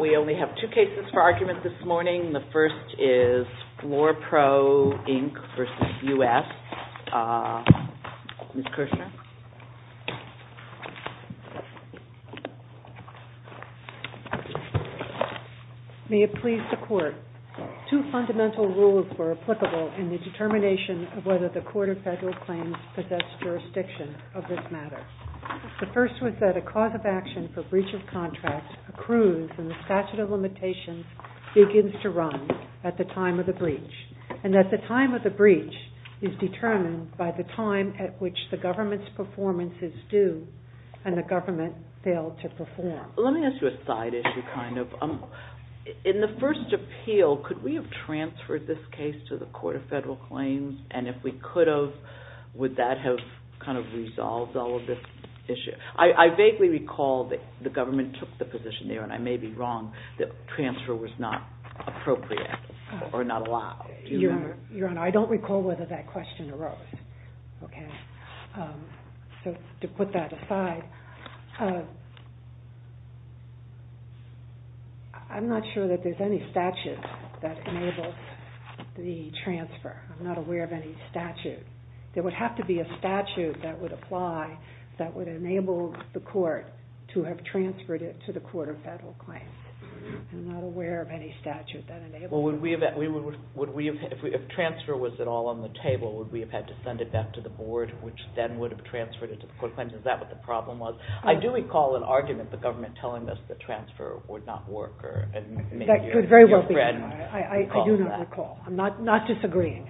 We only have two cases for argument this morning. The first is FLOORPRO INC v. United States, Ms. Kirshner. May it please the Court, two fundamental rules were applicable in the determination of whether the Court of Federal Claims possessed jurisdiction of this matter. The first was that a cause of action for breach of contract accrues and the statute of limitations begins to run at the time of the breach. And that the time of the breach is determined by the time at which the government's performance is due and the government failed to perform. Let me ask you a side issue kind of. In the first appeal, could we have transferred this case to the Court of Federal Claims? And if we could have, would that have kind of resolved all of this issue? I vaguely recall that the government took the position there, and I may be wrong, that transfer was not appropriate or not allowed. Your Honor, I don't recall whether that question arose. To put that aside, I'm not sure that there's any statute that enables the transfer. I'm not aware of any statute. There would have to be a statute that would apply that would enable the Court to have transferred it to the Court of Federal Claims. I'm not aware of any statute that enables that. Well, if transfer was at all on the table, would we have had to send it back to the Board, which then would have transferred it to the Court of Claims? Is that what the problem was? I do recall an argument, the government telling us that transfer would not work. That could very well be. I do not recall. I'm not disagreeing.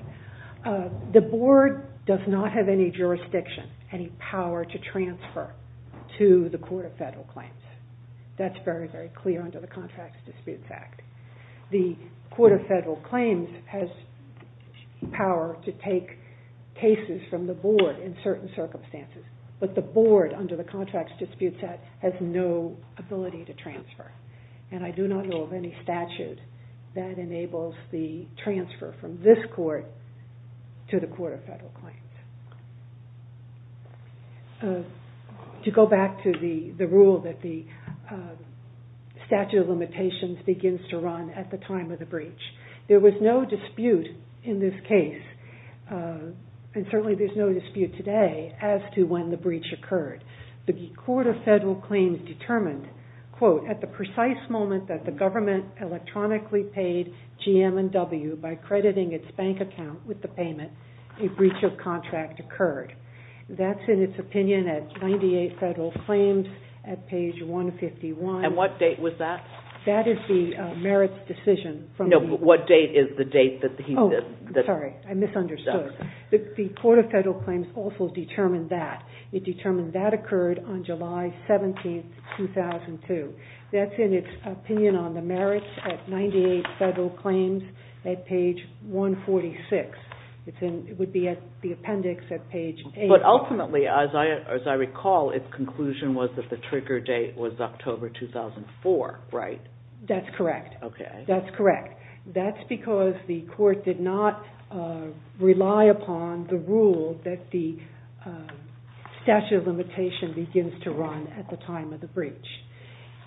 The Board does not have any jurisdiction, any power to transfer to the Court of Federal Claims. That's very, very clear under the Contracts Disputes Act. The Court of Federal Claims has power to take cases from the Board in certain circumstances. But the Board, under the Contracts Disputes Act, has no ability to transfer. And I do not know of any statute that enables the transfer from this Court to the Court of Federal Claims. To go back to the rule that the statute of limitations begins to run at the time of the breach, there was no dispute in this case, and certainly there's no dispute today, as to when the breach occurred. The Court of Federal Claims determined, quote, at the precise moment that the government electronically paid GM&W by crediting its bank account with the payment, a breach of contract occurred. That's in its opinion at 98 Federal Claims, at page 151. And what date was that? That is the merits decision. No, but what date is the date that he did? Sorry, I misunderstood. The Court of Federal Claims also determined that. It determined that occurred on July 17, 2002. That's in its opinion on the merits at 98 Federal Claims, at page 146. It would be at the appendix at page 8. But ultimately, as I recall, its conclusion was that the trigger date was October 2004, right? That's correct. Okay. So we cannot rely upon the rule that the statute of limitation begins to run at the time of the breach.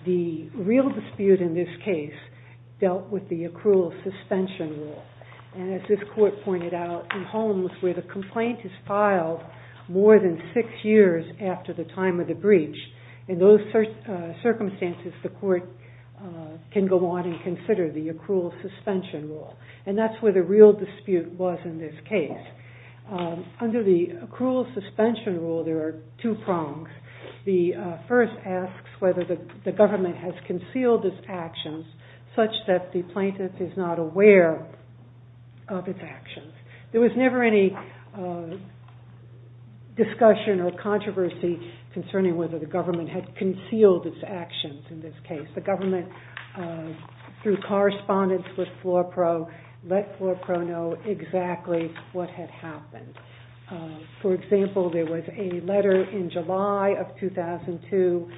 The real dispute in this case dealt with the accrual suspension rule. And as this court pointed out, in homes where the complaint is filed more than six years after the time of the breach, in those circumstances, the court can go on and consider the accrual suspension rule. And that's where the real dispute was in this case. Under the accrual suspension rule, there are two prongs. The first asks whether the government has concealed its actions such that the plaintiff is not aware of its actions. There was never any discussion or controversy concerning whether the government had concealed its actions in this case. The government, through correspondence with FLORPRO, let FLORPRO know exactly what had happened. For example, there was a letter in July of 2002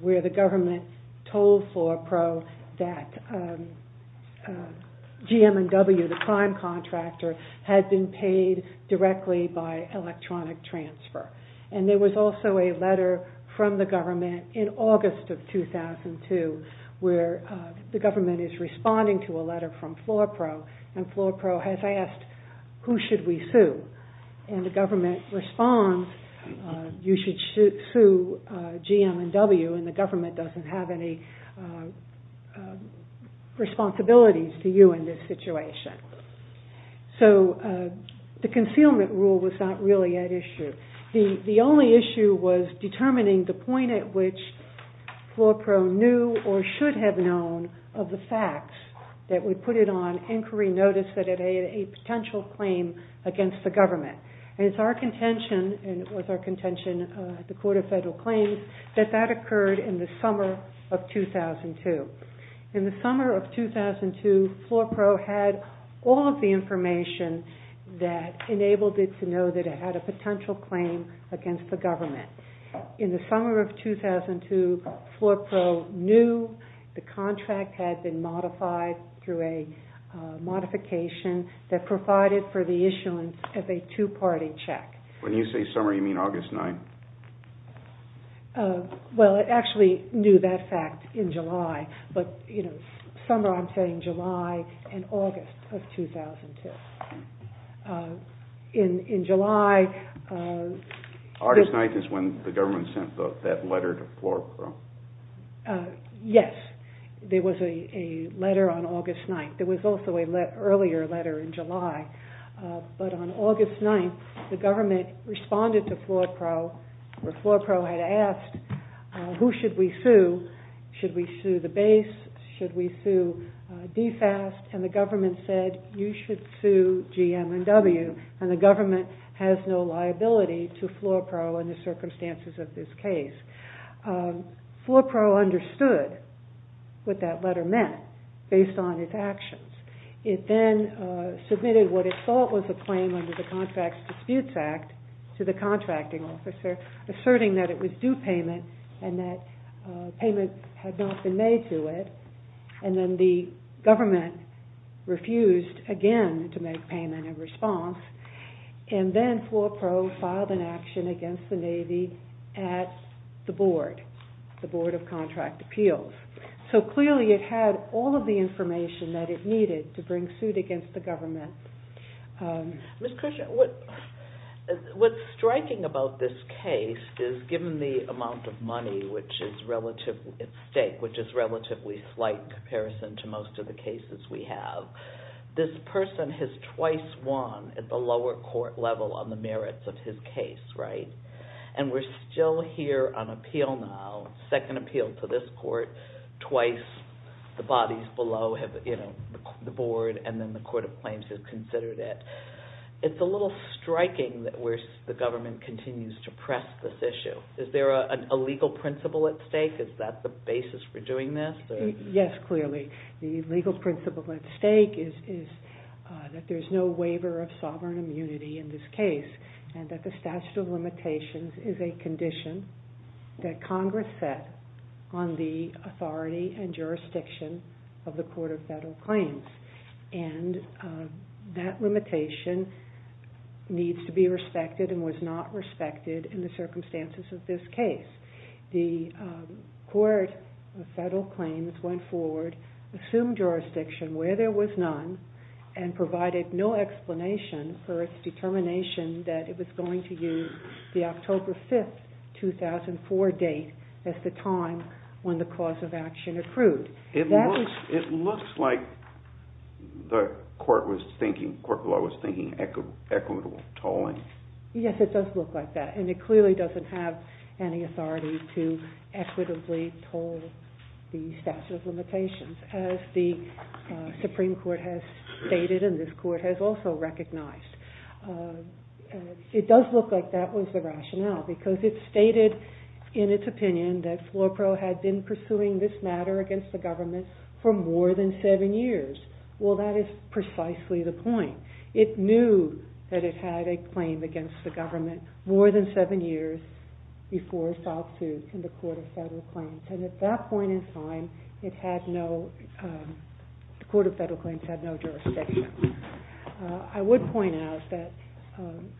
where the government told FLORPRO that GM&W, the prime contractor, had been paid directly by electronic transfer. And there was also a letter from the government in August of 2002 where the government is responding to a letter from FLORPRO. And FLORPRO has asked, who should we sue? And the government responds, you should sue GM&W and the government doesn't have any responsibilities to you in this situation. So the concealment rule was not really at issue. The only issue was determining the point at which FLORPRO knew or should have known of the facts, that we put it on inquiry notice that it had a potential claim against the government. And it's our contention, and it was our contention at the Court of Federal Claims, that that occurred in the summer of 2002. In the summer of 2002, FLORPRO had all of the information that enabled it to know that it had a potential claim against the government. In the summer of 2002, FLORPRO knew the contract had been modified through a modification that provided for the issuance of a two-party check. When you say summer, you mean August 9? Well, it actually knew that fact in July, but summer I'm saying July and August of 2002. In July... August 9 is when the government sent that letter to FLORPRO. Yes, there was a letter on August 9. There was also an earlier letter in July. But on August 9, the government responded to FLORPRO, where FLORPRO had asked, who should we sue? Should we sue the base? Should we sue DFAST? And the government said, you should sue GM&W. And the government has no liability to FLORPRO in the circumstances of this case. FLORPRO understood what that letter meant based on its actions. It then submitted what it thought was a claim under the Contracts Disputes Act to the contracting officer, asserting that it was due payment and that payment had not been made to it. And then the government refused again to make payment in response. And then FLORPRO filed an action against the Navy at the board, the Board of Contract Appeals. So clearly it had all of the information that it needed to bring suit against the government. Ms. Christian, what's striking about this case is, given the amount of money at stake, which is relatively slight in comparison to most of the cases we have, this person has twice won at the lower court level on the merits of his case, right? And we're still here on appeal now, second appeal to this court, twice the bodies below the board and then the Court of Claims has considered it. It's a little striking that the government continues to press this issue. Is there a legal principle at stake? Is that the basis for doing this? Yes, clearly. The legal principle at stake is that there's no waiver of sovereign immunity in this case and that the statute of limitations is a condition that Congress set on the authority and jurisdiction of the Court of Federal Claims. And that limitation needs to be respected and was not respected in the circumstances of this case. The Court of Federal Claims went forward, assumed jurisdiction where there was none and provided no explanation for its determination that it was going to use the October 5, 2004 date as the time when the cause of action accrued. It looks like the court was thinking equitable tolling. Yes, it does look like that. And it clearly doesn't have any authority to equitably toll the statute of limitations. As the Supreme Court has stated and this court has also recognized. It does look like that was the rationale because it stated in its opinion that FLORPRO had been pursuing this matter against the government for more than seven years. Well, that is precisely the point. It knew that it had a claim against the government more than seven years before it filed suit in the Court of Federal Claims. And at that point in time, the Court of Federal Claims had no jurisdiction. I would point out that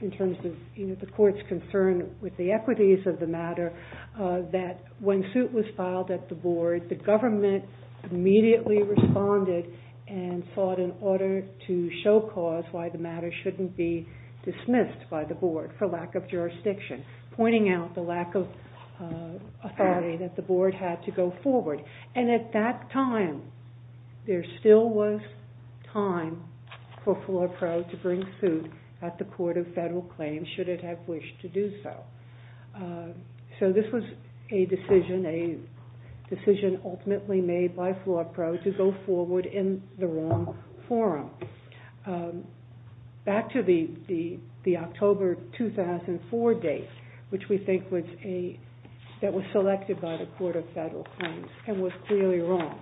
in terms of the court's concern with the equities of the matter, that when suit was filed at the board, the government immediately responded and sought an order to show cause why the matter shouldn't be dismissed by the board for lack of jurisdiction. Pointing out the lack of authority that the board had to go forward. And at that time, there still was time for FLORPRO to bring suit at the Court of Federal Claims should it have wished to do so. So this was a decision ultimately made by FLORPRO to go forward in the wrong forum. Back to the October 2004 date, which we think was selected by the Court of Federal Claims and was clearly wrong.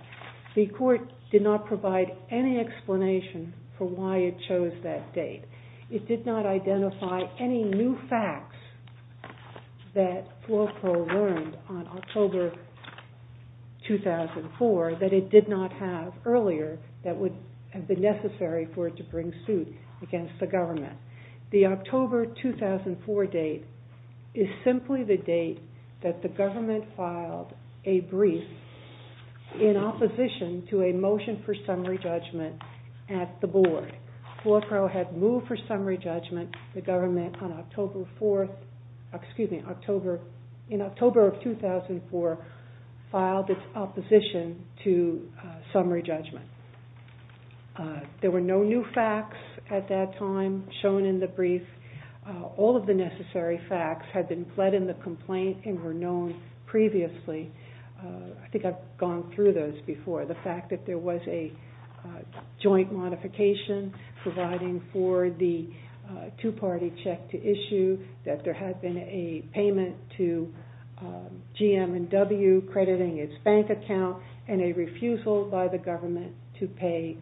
The court did not provide any explanation for why it chose that date. It did not identify any new facts that FLORPRO learned on October 2004 that it did not have earlier that would have been necessary for it to bring suit against the government. The October 2004 date is simply the date that the government filed a brief in opposition to a motion for summary judgment at the board. FLORPRO had moved for summary judgment. The government on October 4, excuse me, in October of 2004, filed its opposition to summary judgment. There were no new facts at that time shown in the brief. All of the necessary facts had been fled in the complaint and were known previously. I think I've gone through those before. The fact that there was a joint modification providing for the two-party check to issue, that there had been a payment to GM&W crediting its bank account, and a refusal by the government to pay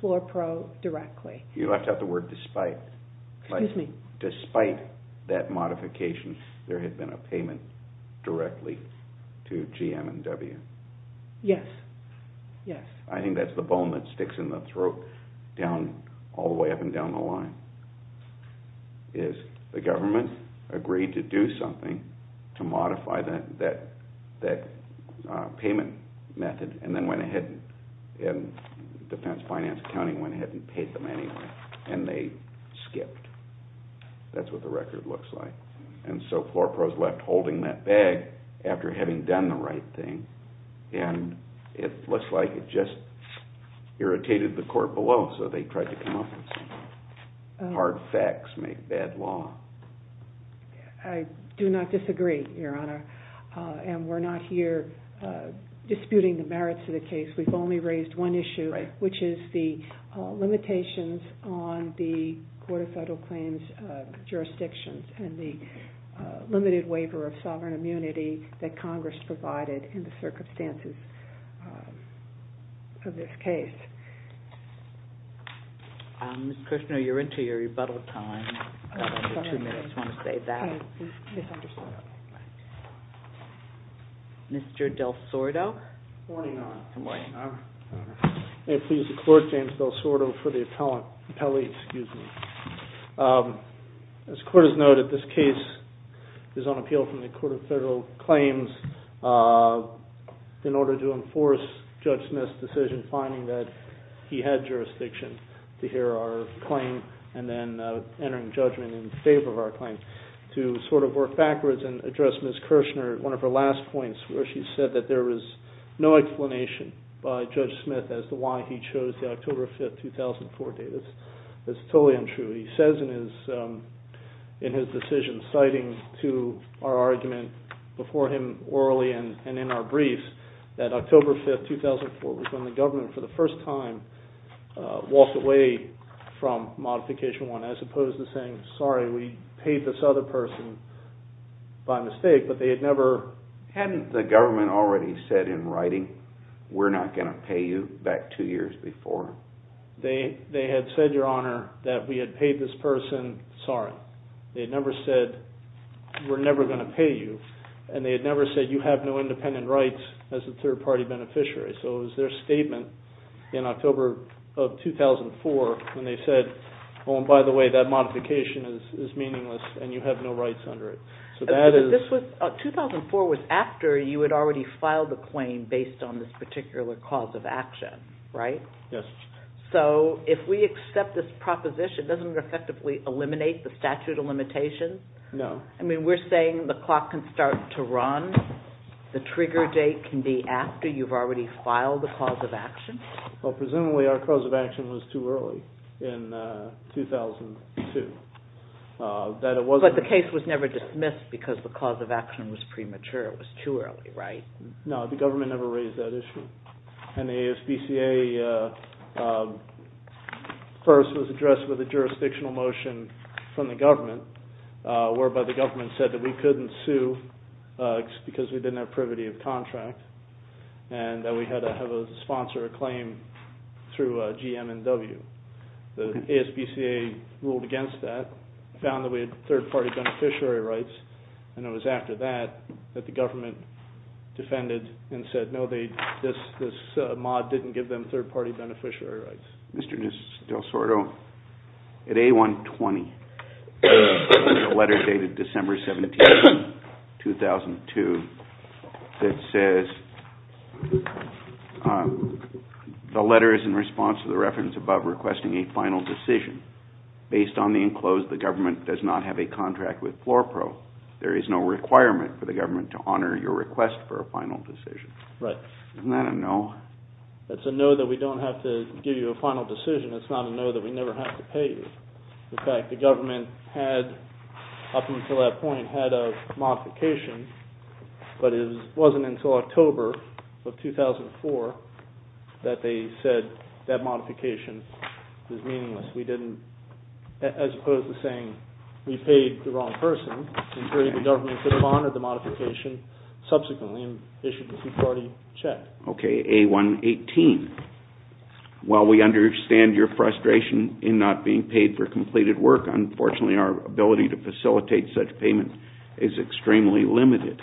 FLORPRO directly. You left out the word despite. Excuse me. Despite that modification, there had been a payment directly to GM&W. Yes, yes. I think that's the bone that sticks in the throat all the way up and down the line. The government agreed to do something to modify that payment method and then went ahead and defense finance accounting went ahead and paid them anyway, and they skipped. That's what the record looks like. So FLORPRO is left holding that bag after having done the right thing. It looks like it just irritated the court below, so they tried to come up with some hard facts, make bad law. I do not disagree, Your Honor. We're not here disputing the merits of the case. We've only raised one issue, which is the limitations on the Court of Federal Claims jurisdictions and the limited waiver of sovereign immunity that Congress provided in the circumstances of this case. Ms. Kushner, you're into your rebuttal time. You have two minutes. I just want to say that. I misunderstood. Mr. Del Sordo. Good morning, Your Honor. Good morning. May it please the Court, James Del Sordo for the appellate. As the Court has noted, this case is on appeal from the Court of Federal Claims in order to enforce Judge Smith's decision finding that he had jurisdiction to hear our claim and then entering judgment in favor of our claim. To sort of work backwards and address Ms. Kushner, one of her last points where she said that there was no explanation by Judge Smith as to why he chose the October 5, 2004 date. That's totally untrue. He says in his decision citing to our argument before him orally and in our briefs that October 5, 2004 was when the government for the first time walked away from Modification I as opposed to saying, sorry, we paid this other person by mistake. But they had never... Hadn't the government already said in writing, we're not going to pay you back two years before? They had said, Your Honor, that we had paid this person, sorry. They had never said, we're never going to pay you. And they had never said, you have no independent rights as a third-party beneficiary. So it was their statement in October of 2004 when they said, oh, and by the way, that modification is meaningless and you have no rights under it. So that is... 2004 was after you had already filed the claim based on this particular cause of action, right? Yes. So if we accept this proposition, doesn't it effectively eliminate the statute of limitations? No. I mean, we're saying the clock can start to run. The trigger date can be after you've already filed the cause of action? Well, presumably our cause of action was too early in 2002. But the case was never dismissed because the cause of action was premature. It was too early, right? No, the government never raised that issue. And the ASBCA first was addressed with a jurisdictional motion from the government whereby the government said that we couldn't sue because we didn't have privity of contract and that we had to have a sponsor a claim through GM&W. The ASBCA ruled against that, found that we had third-party beneficiary rights, and it was after that that the government defended and said, no, this mod didn't give them third-party beneficiary rights. Mr. Del Sordo, at A120, there's a letter dated December 17, 2002, that says the letter is in response to the reference above requesting a final decision. Based on the enclosed, the government does not have a contract with FlorPro. There is no requirement for the government to honor your request for a final decision. Right. Isn't that a no? It's a no that we don't have to give you a final decision. It's not a no that we never have to pay you. In fact, the government had, up until that point, had a modification, but it wasn't until October of 2004 that they said that modification was meaningless. We didn't, as opposed to saying we paid the wrong person, in theory the government should have honored the modification subsequently and issued a third-party check. Okay. A118. While we understand your frustration in not being paid for completed work, unfortunately our ability to facilitate such payment is extremely limited.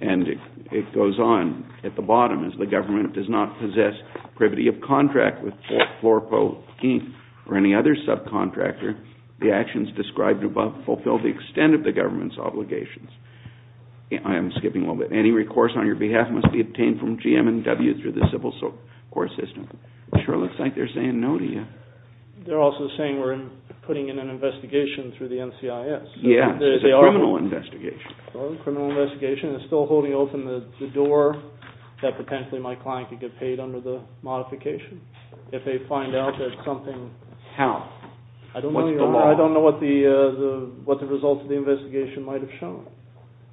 And it goes on at the bottom, as the government does not possess privity of contract with FlorPro or any other subcontractor, the actions described above fulfill the extent of the government's obligations. I am skipping a little bit. Any recourse on your behalf must be obtained from GM&W through the civil court system. It sure looks like they're saying no to you. They're also saying we're putting in an investigation through the NCIS. Yes. It's a criminal investigation. It's a criminal investigation. It's still holding open the door that potentially my client could get paid under the modification. If they find out that something- How? I don't know what the results of the investigation might have shown.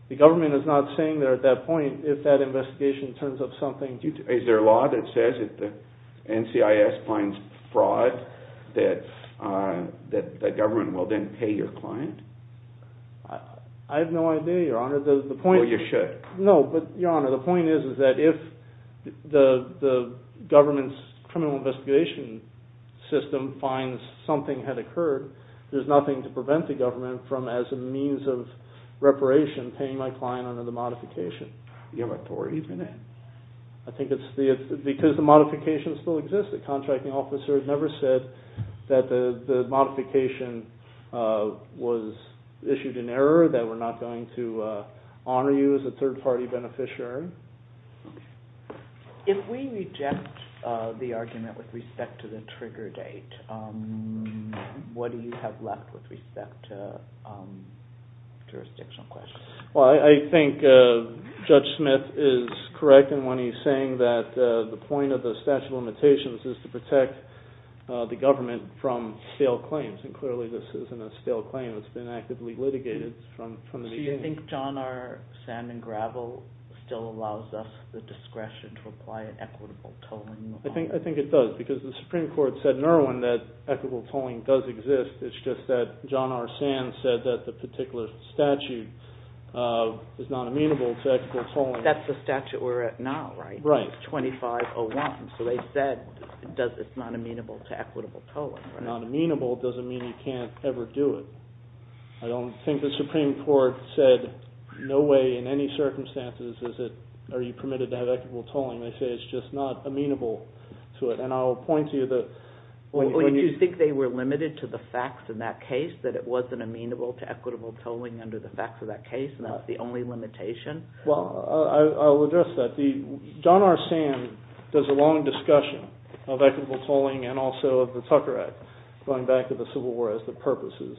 The government is not saying that at that point if that investigation turns up something- Is there a law that says if the NCIS finds fraud that the government will then pay your client? I have no idea, Your Honor. Well, you should. No, but Your Honor, the point is that if the government's criminal investigation system finds something had occurred, there's nothing to prevent the government from, as a means of reparation, paying my client under the modification. You have a tort even in it. I think it's because the modification still exists. The contracting officer never said that the modification was issued in error, that we're not going to honor you as a third-party beneficiary. If we reject the argument with respect to the trigger date, what do you have left with respect to jurisdictional questions? Well, I think Judge Smith is correct in what he's saying, that the point of the statute of limitations is to protect the government from stale claims, and clearly this isn't a stale claim. It's been actively litigated from the beginning. Do you think John R. Sandman Gravel still allows us the discretion to apply an equitable tolling? I think it does, because the Supreme Court said in Irwin that equitable tolling does exist. It's just that John R. Sandman said that the particular statute is not amenable to equitable tolling. That's the statute we're at now, right? Right. It's 2501, so they said it's not amenable to equitable tolling. Not amenable doesn't mean you can't ever do it. I don't think the Supreme Court said no way in any circumstances are you permitted to have equitable tolling. They say it's just not amenable to it. And I'll point to you that— Or did you think they were limited to the facts in that case, that it wasn't amenable to equitable tolling under the facts of that case and that's the only limitation? Well, I'll address that. John R. Sandman does a long discussion of equitable tolling and also of the Tucker Act going back to the Civil War as the purposes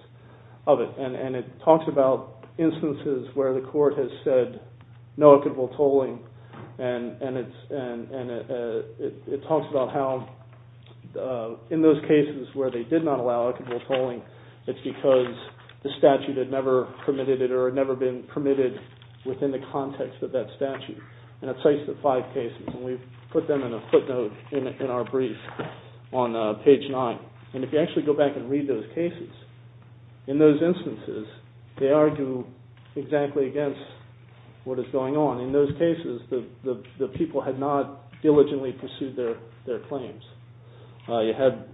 of it. And it talks about instances where the court has said no equitable tolling and it talks about how in those cases where they did not allow equitable tolling, it's because the statute had never permitted it or had never been permitted within the context of that statute. And it cites the five cases, and we've put them in a footnote in our brief on page 9. And if you actually go back and read those cases, in those instances they argue exactly against what is going on. In those cases the people had not diligently pursued their claims. You had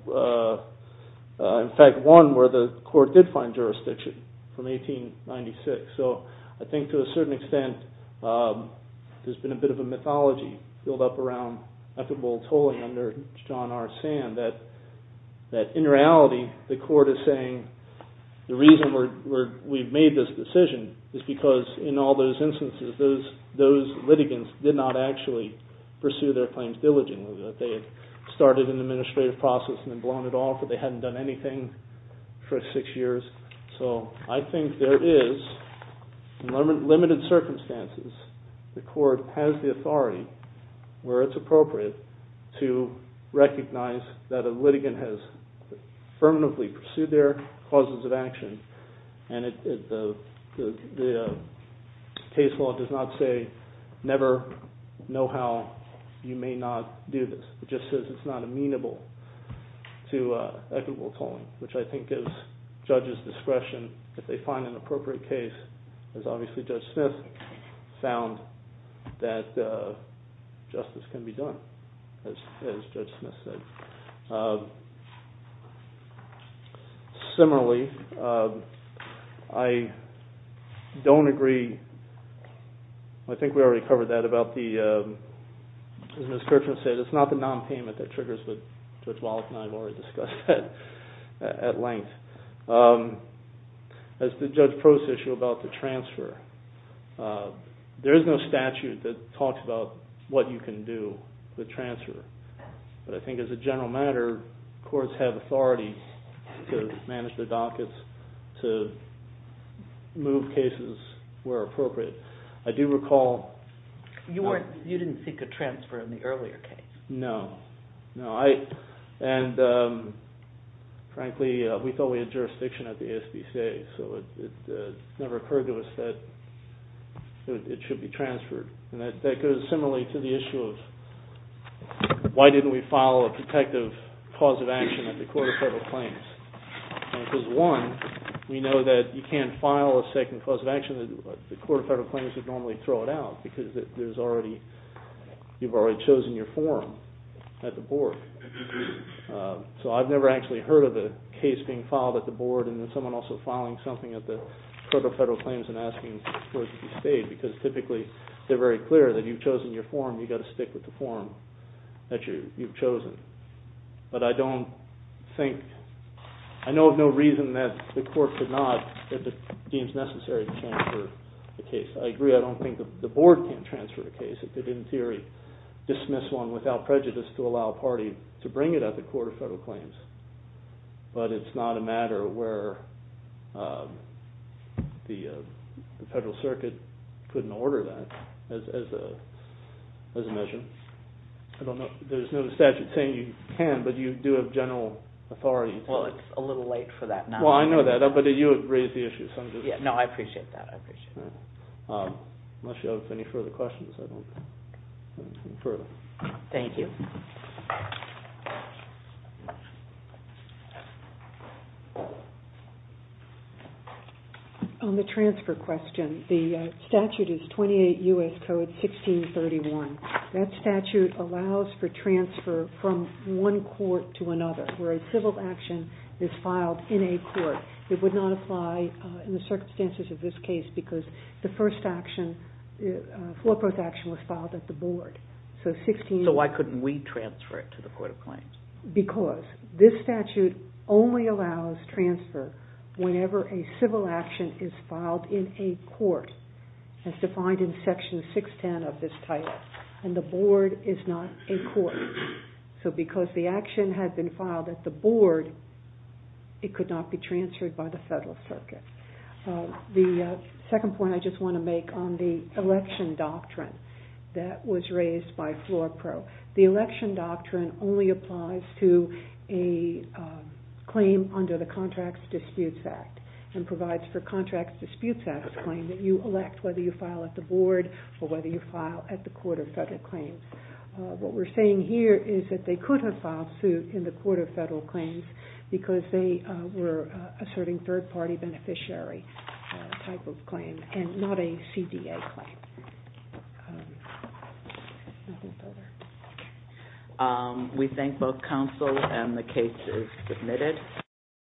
in fact one where the court did find jurisdiction from 1896. So I think to a certain extent there's been a bit of a mythology built up around equitable tolling under John R. Sand that in reality the court is saying the reason we've made this decision is because in all those instances those litigants did not actually pursue their claims diligently. They had started an administrative process and then blown it off but they hadn't done anything for six years. So I think there is, in limited circumstances, the court has the authority where it's appropriate to recognize that a litigant has permanently pursued their causes of action and the case law does not say never know how you may not do this. It just says it's not amenable to equitable tolling, which I think gives judges discretion if they find an appropriate case, as obviously Judge Smith found that justice can be done, as Judge Smith said. Similarly, I don't agree. I think we already covered that about the, as Ms. Kirchner said, it's not the nonpayment that triggers, but Judge Wallach and I have already discussed that at length. As to Judge Prost's issue about the transfer, there is no statute that talks about what you can do to transfer. But I think as a general matter, courts have authority to manage their dockets, to move cases where appropriate. I do recall... You didn't seek a transfer in the earlier case. No. Frankly, we thought we had jurisdiction at the ASPCA, so it never occurred to us that it should be transferred. That goes similarly to the issue of why didn't we file a protective cause of action at the Court of Federal Claims. Because one, we know that you can't file a second cause of action that the Court of Federal Claims would normally throw it out because you've already chosen your form at the Board. So I've never actually heard of a case being filed at the Board and then someone also filing something at the Court of Federal Claims and asking for it to be stayed, because typically they're very clear that you've chosen your form, you've got to stick with the form that you've chosen. But I don't think... I know of no reason that the Court could not, if it deems necessary, transfer the case. I agree, I don't think the Board can transfer the case if they didn't, in theory, dismiss one without prejudice to allow a party to bring it at the Court of Federal Claims. But it's not a matter where the Federal Circuit couldn't order that as a measure. There's no statute saying you can, but you do have general authority to... Well, it's a little late for that now. Well, I know that, but you have raised the issue. No, I appreciate that, I appreciate that. Unless you have any further questions, I don't... Thank you. On the transfer question, the statute is 28 U.S. Code 1631. That statute allows for transfer from one court to another, where a civil action is filed in a court. It would not apply in the circumstances of this case because the first action, the forecourt action, was filed at the Board. So why couldn't we transfer it to the Court of Claims? Because this statute only allows transfer whenever a civil action is filed in a court, as defined in Section 610 of this title, and the Board is not a court. So because the action had been filed at the Board, it could not be transferred by the Federal Circuit. The second point I just want to make on the election doctrine that was raised by Floor Pro. The election doctrine only applies to a claim under the Contracts Disputes Act and provides for Contracts Disputes Act claim that you elect whether you file at the Board or whether you file at the Court of Federal Claims. What we're saying here is that they could have filed suit in the Court of Federal Claims because they were asserting third-party beneficiary type of claim and not a CDA claim. We thank both counsel and the case is submitted.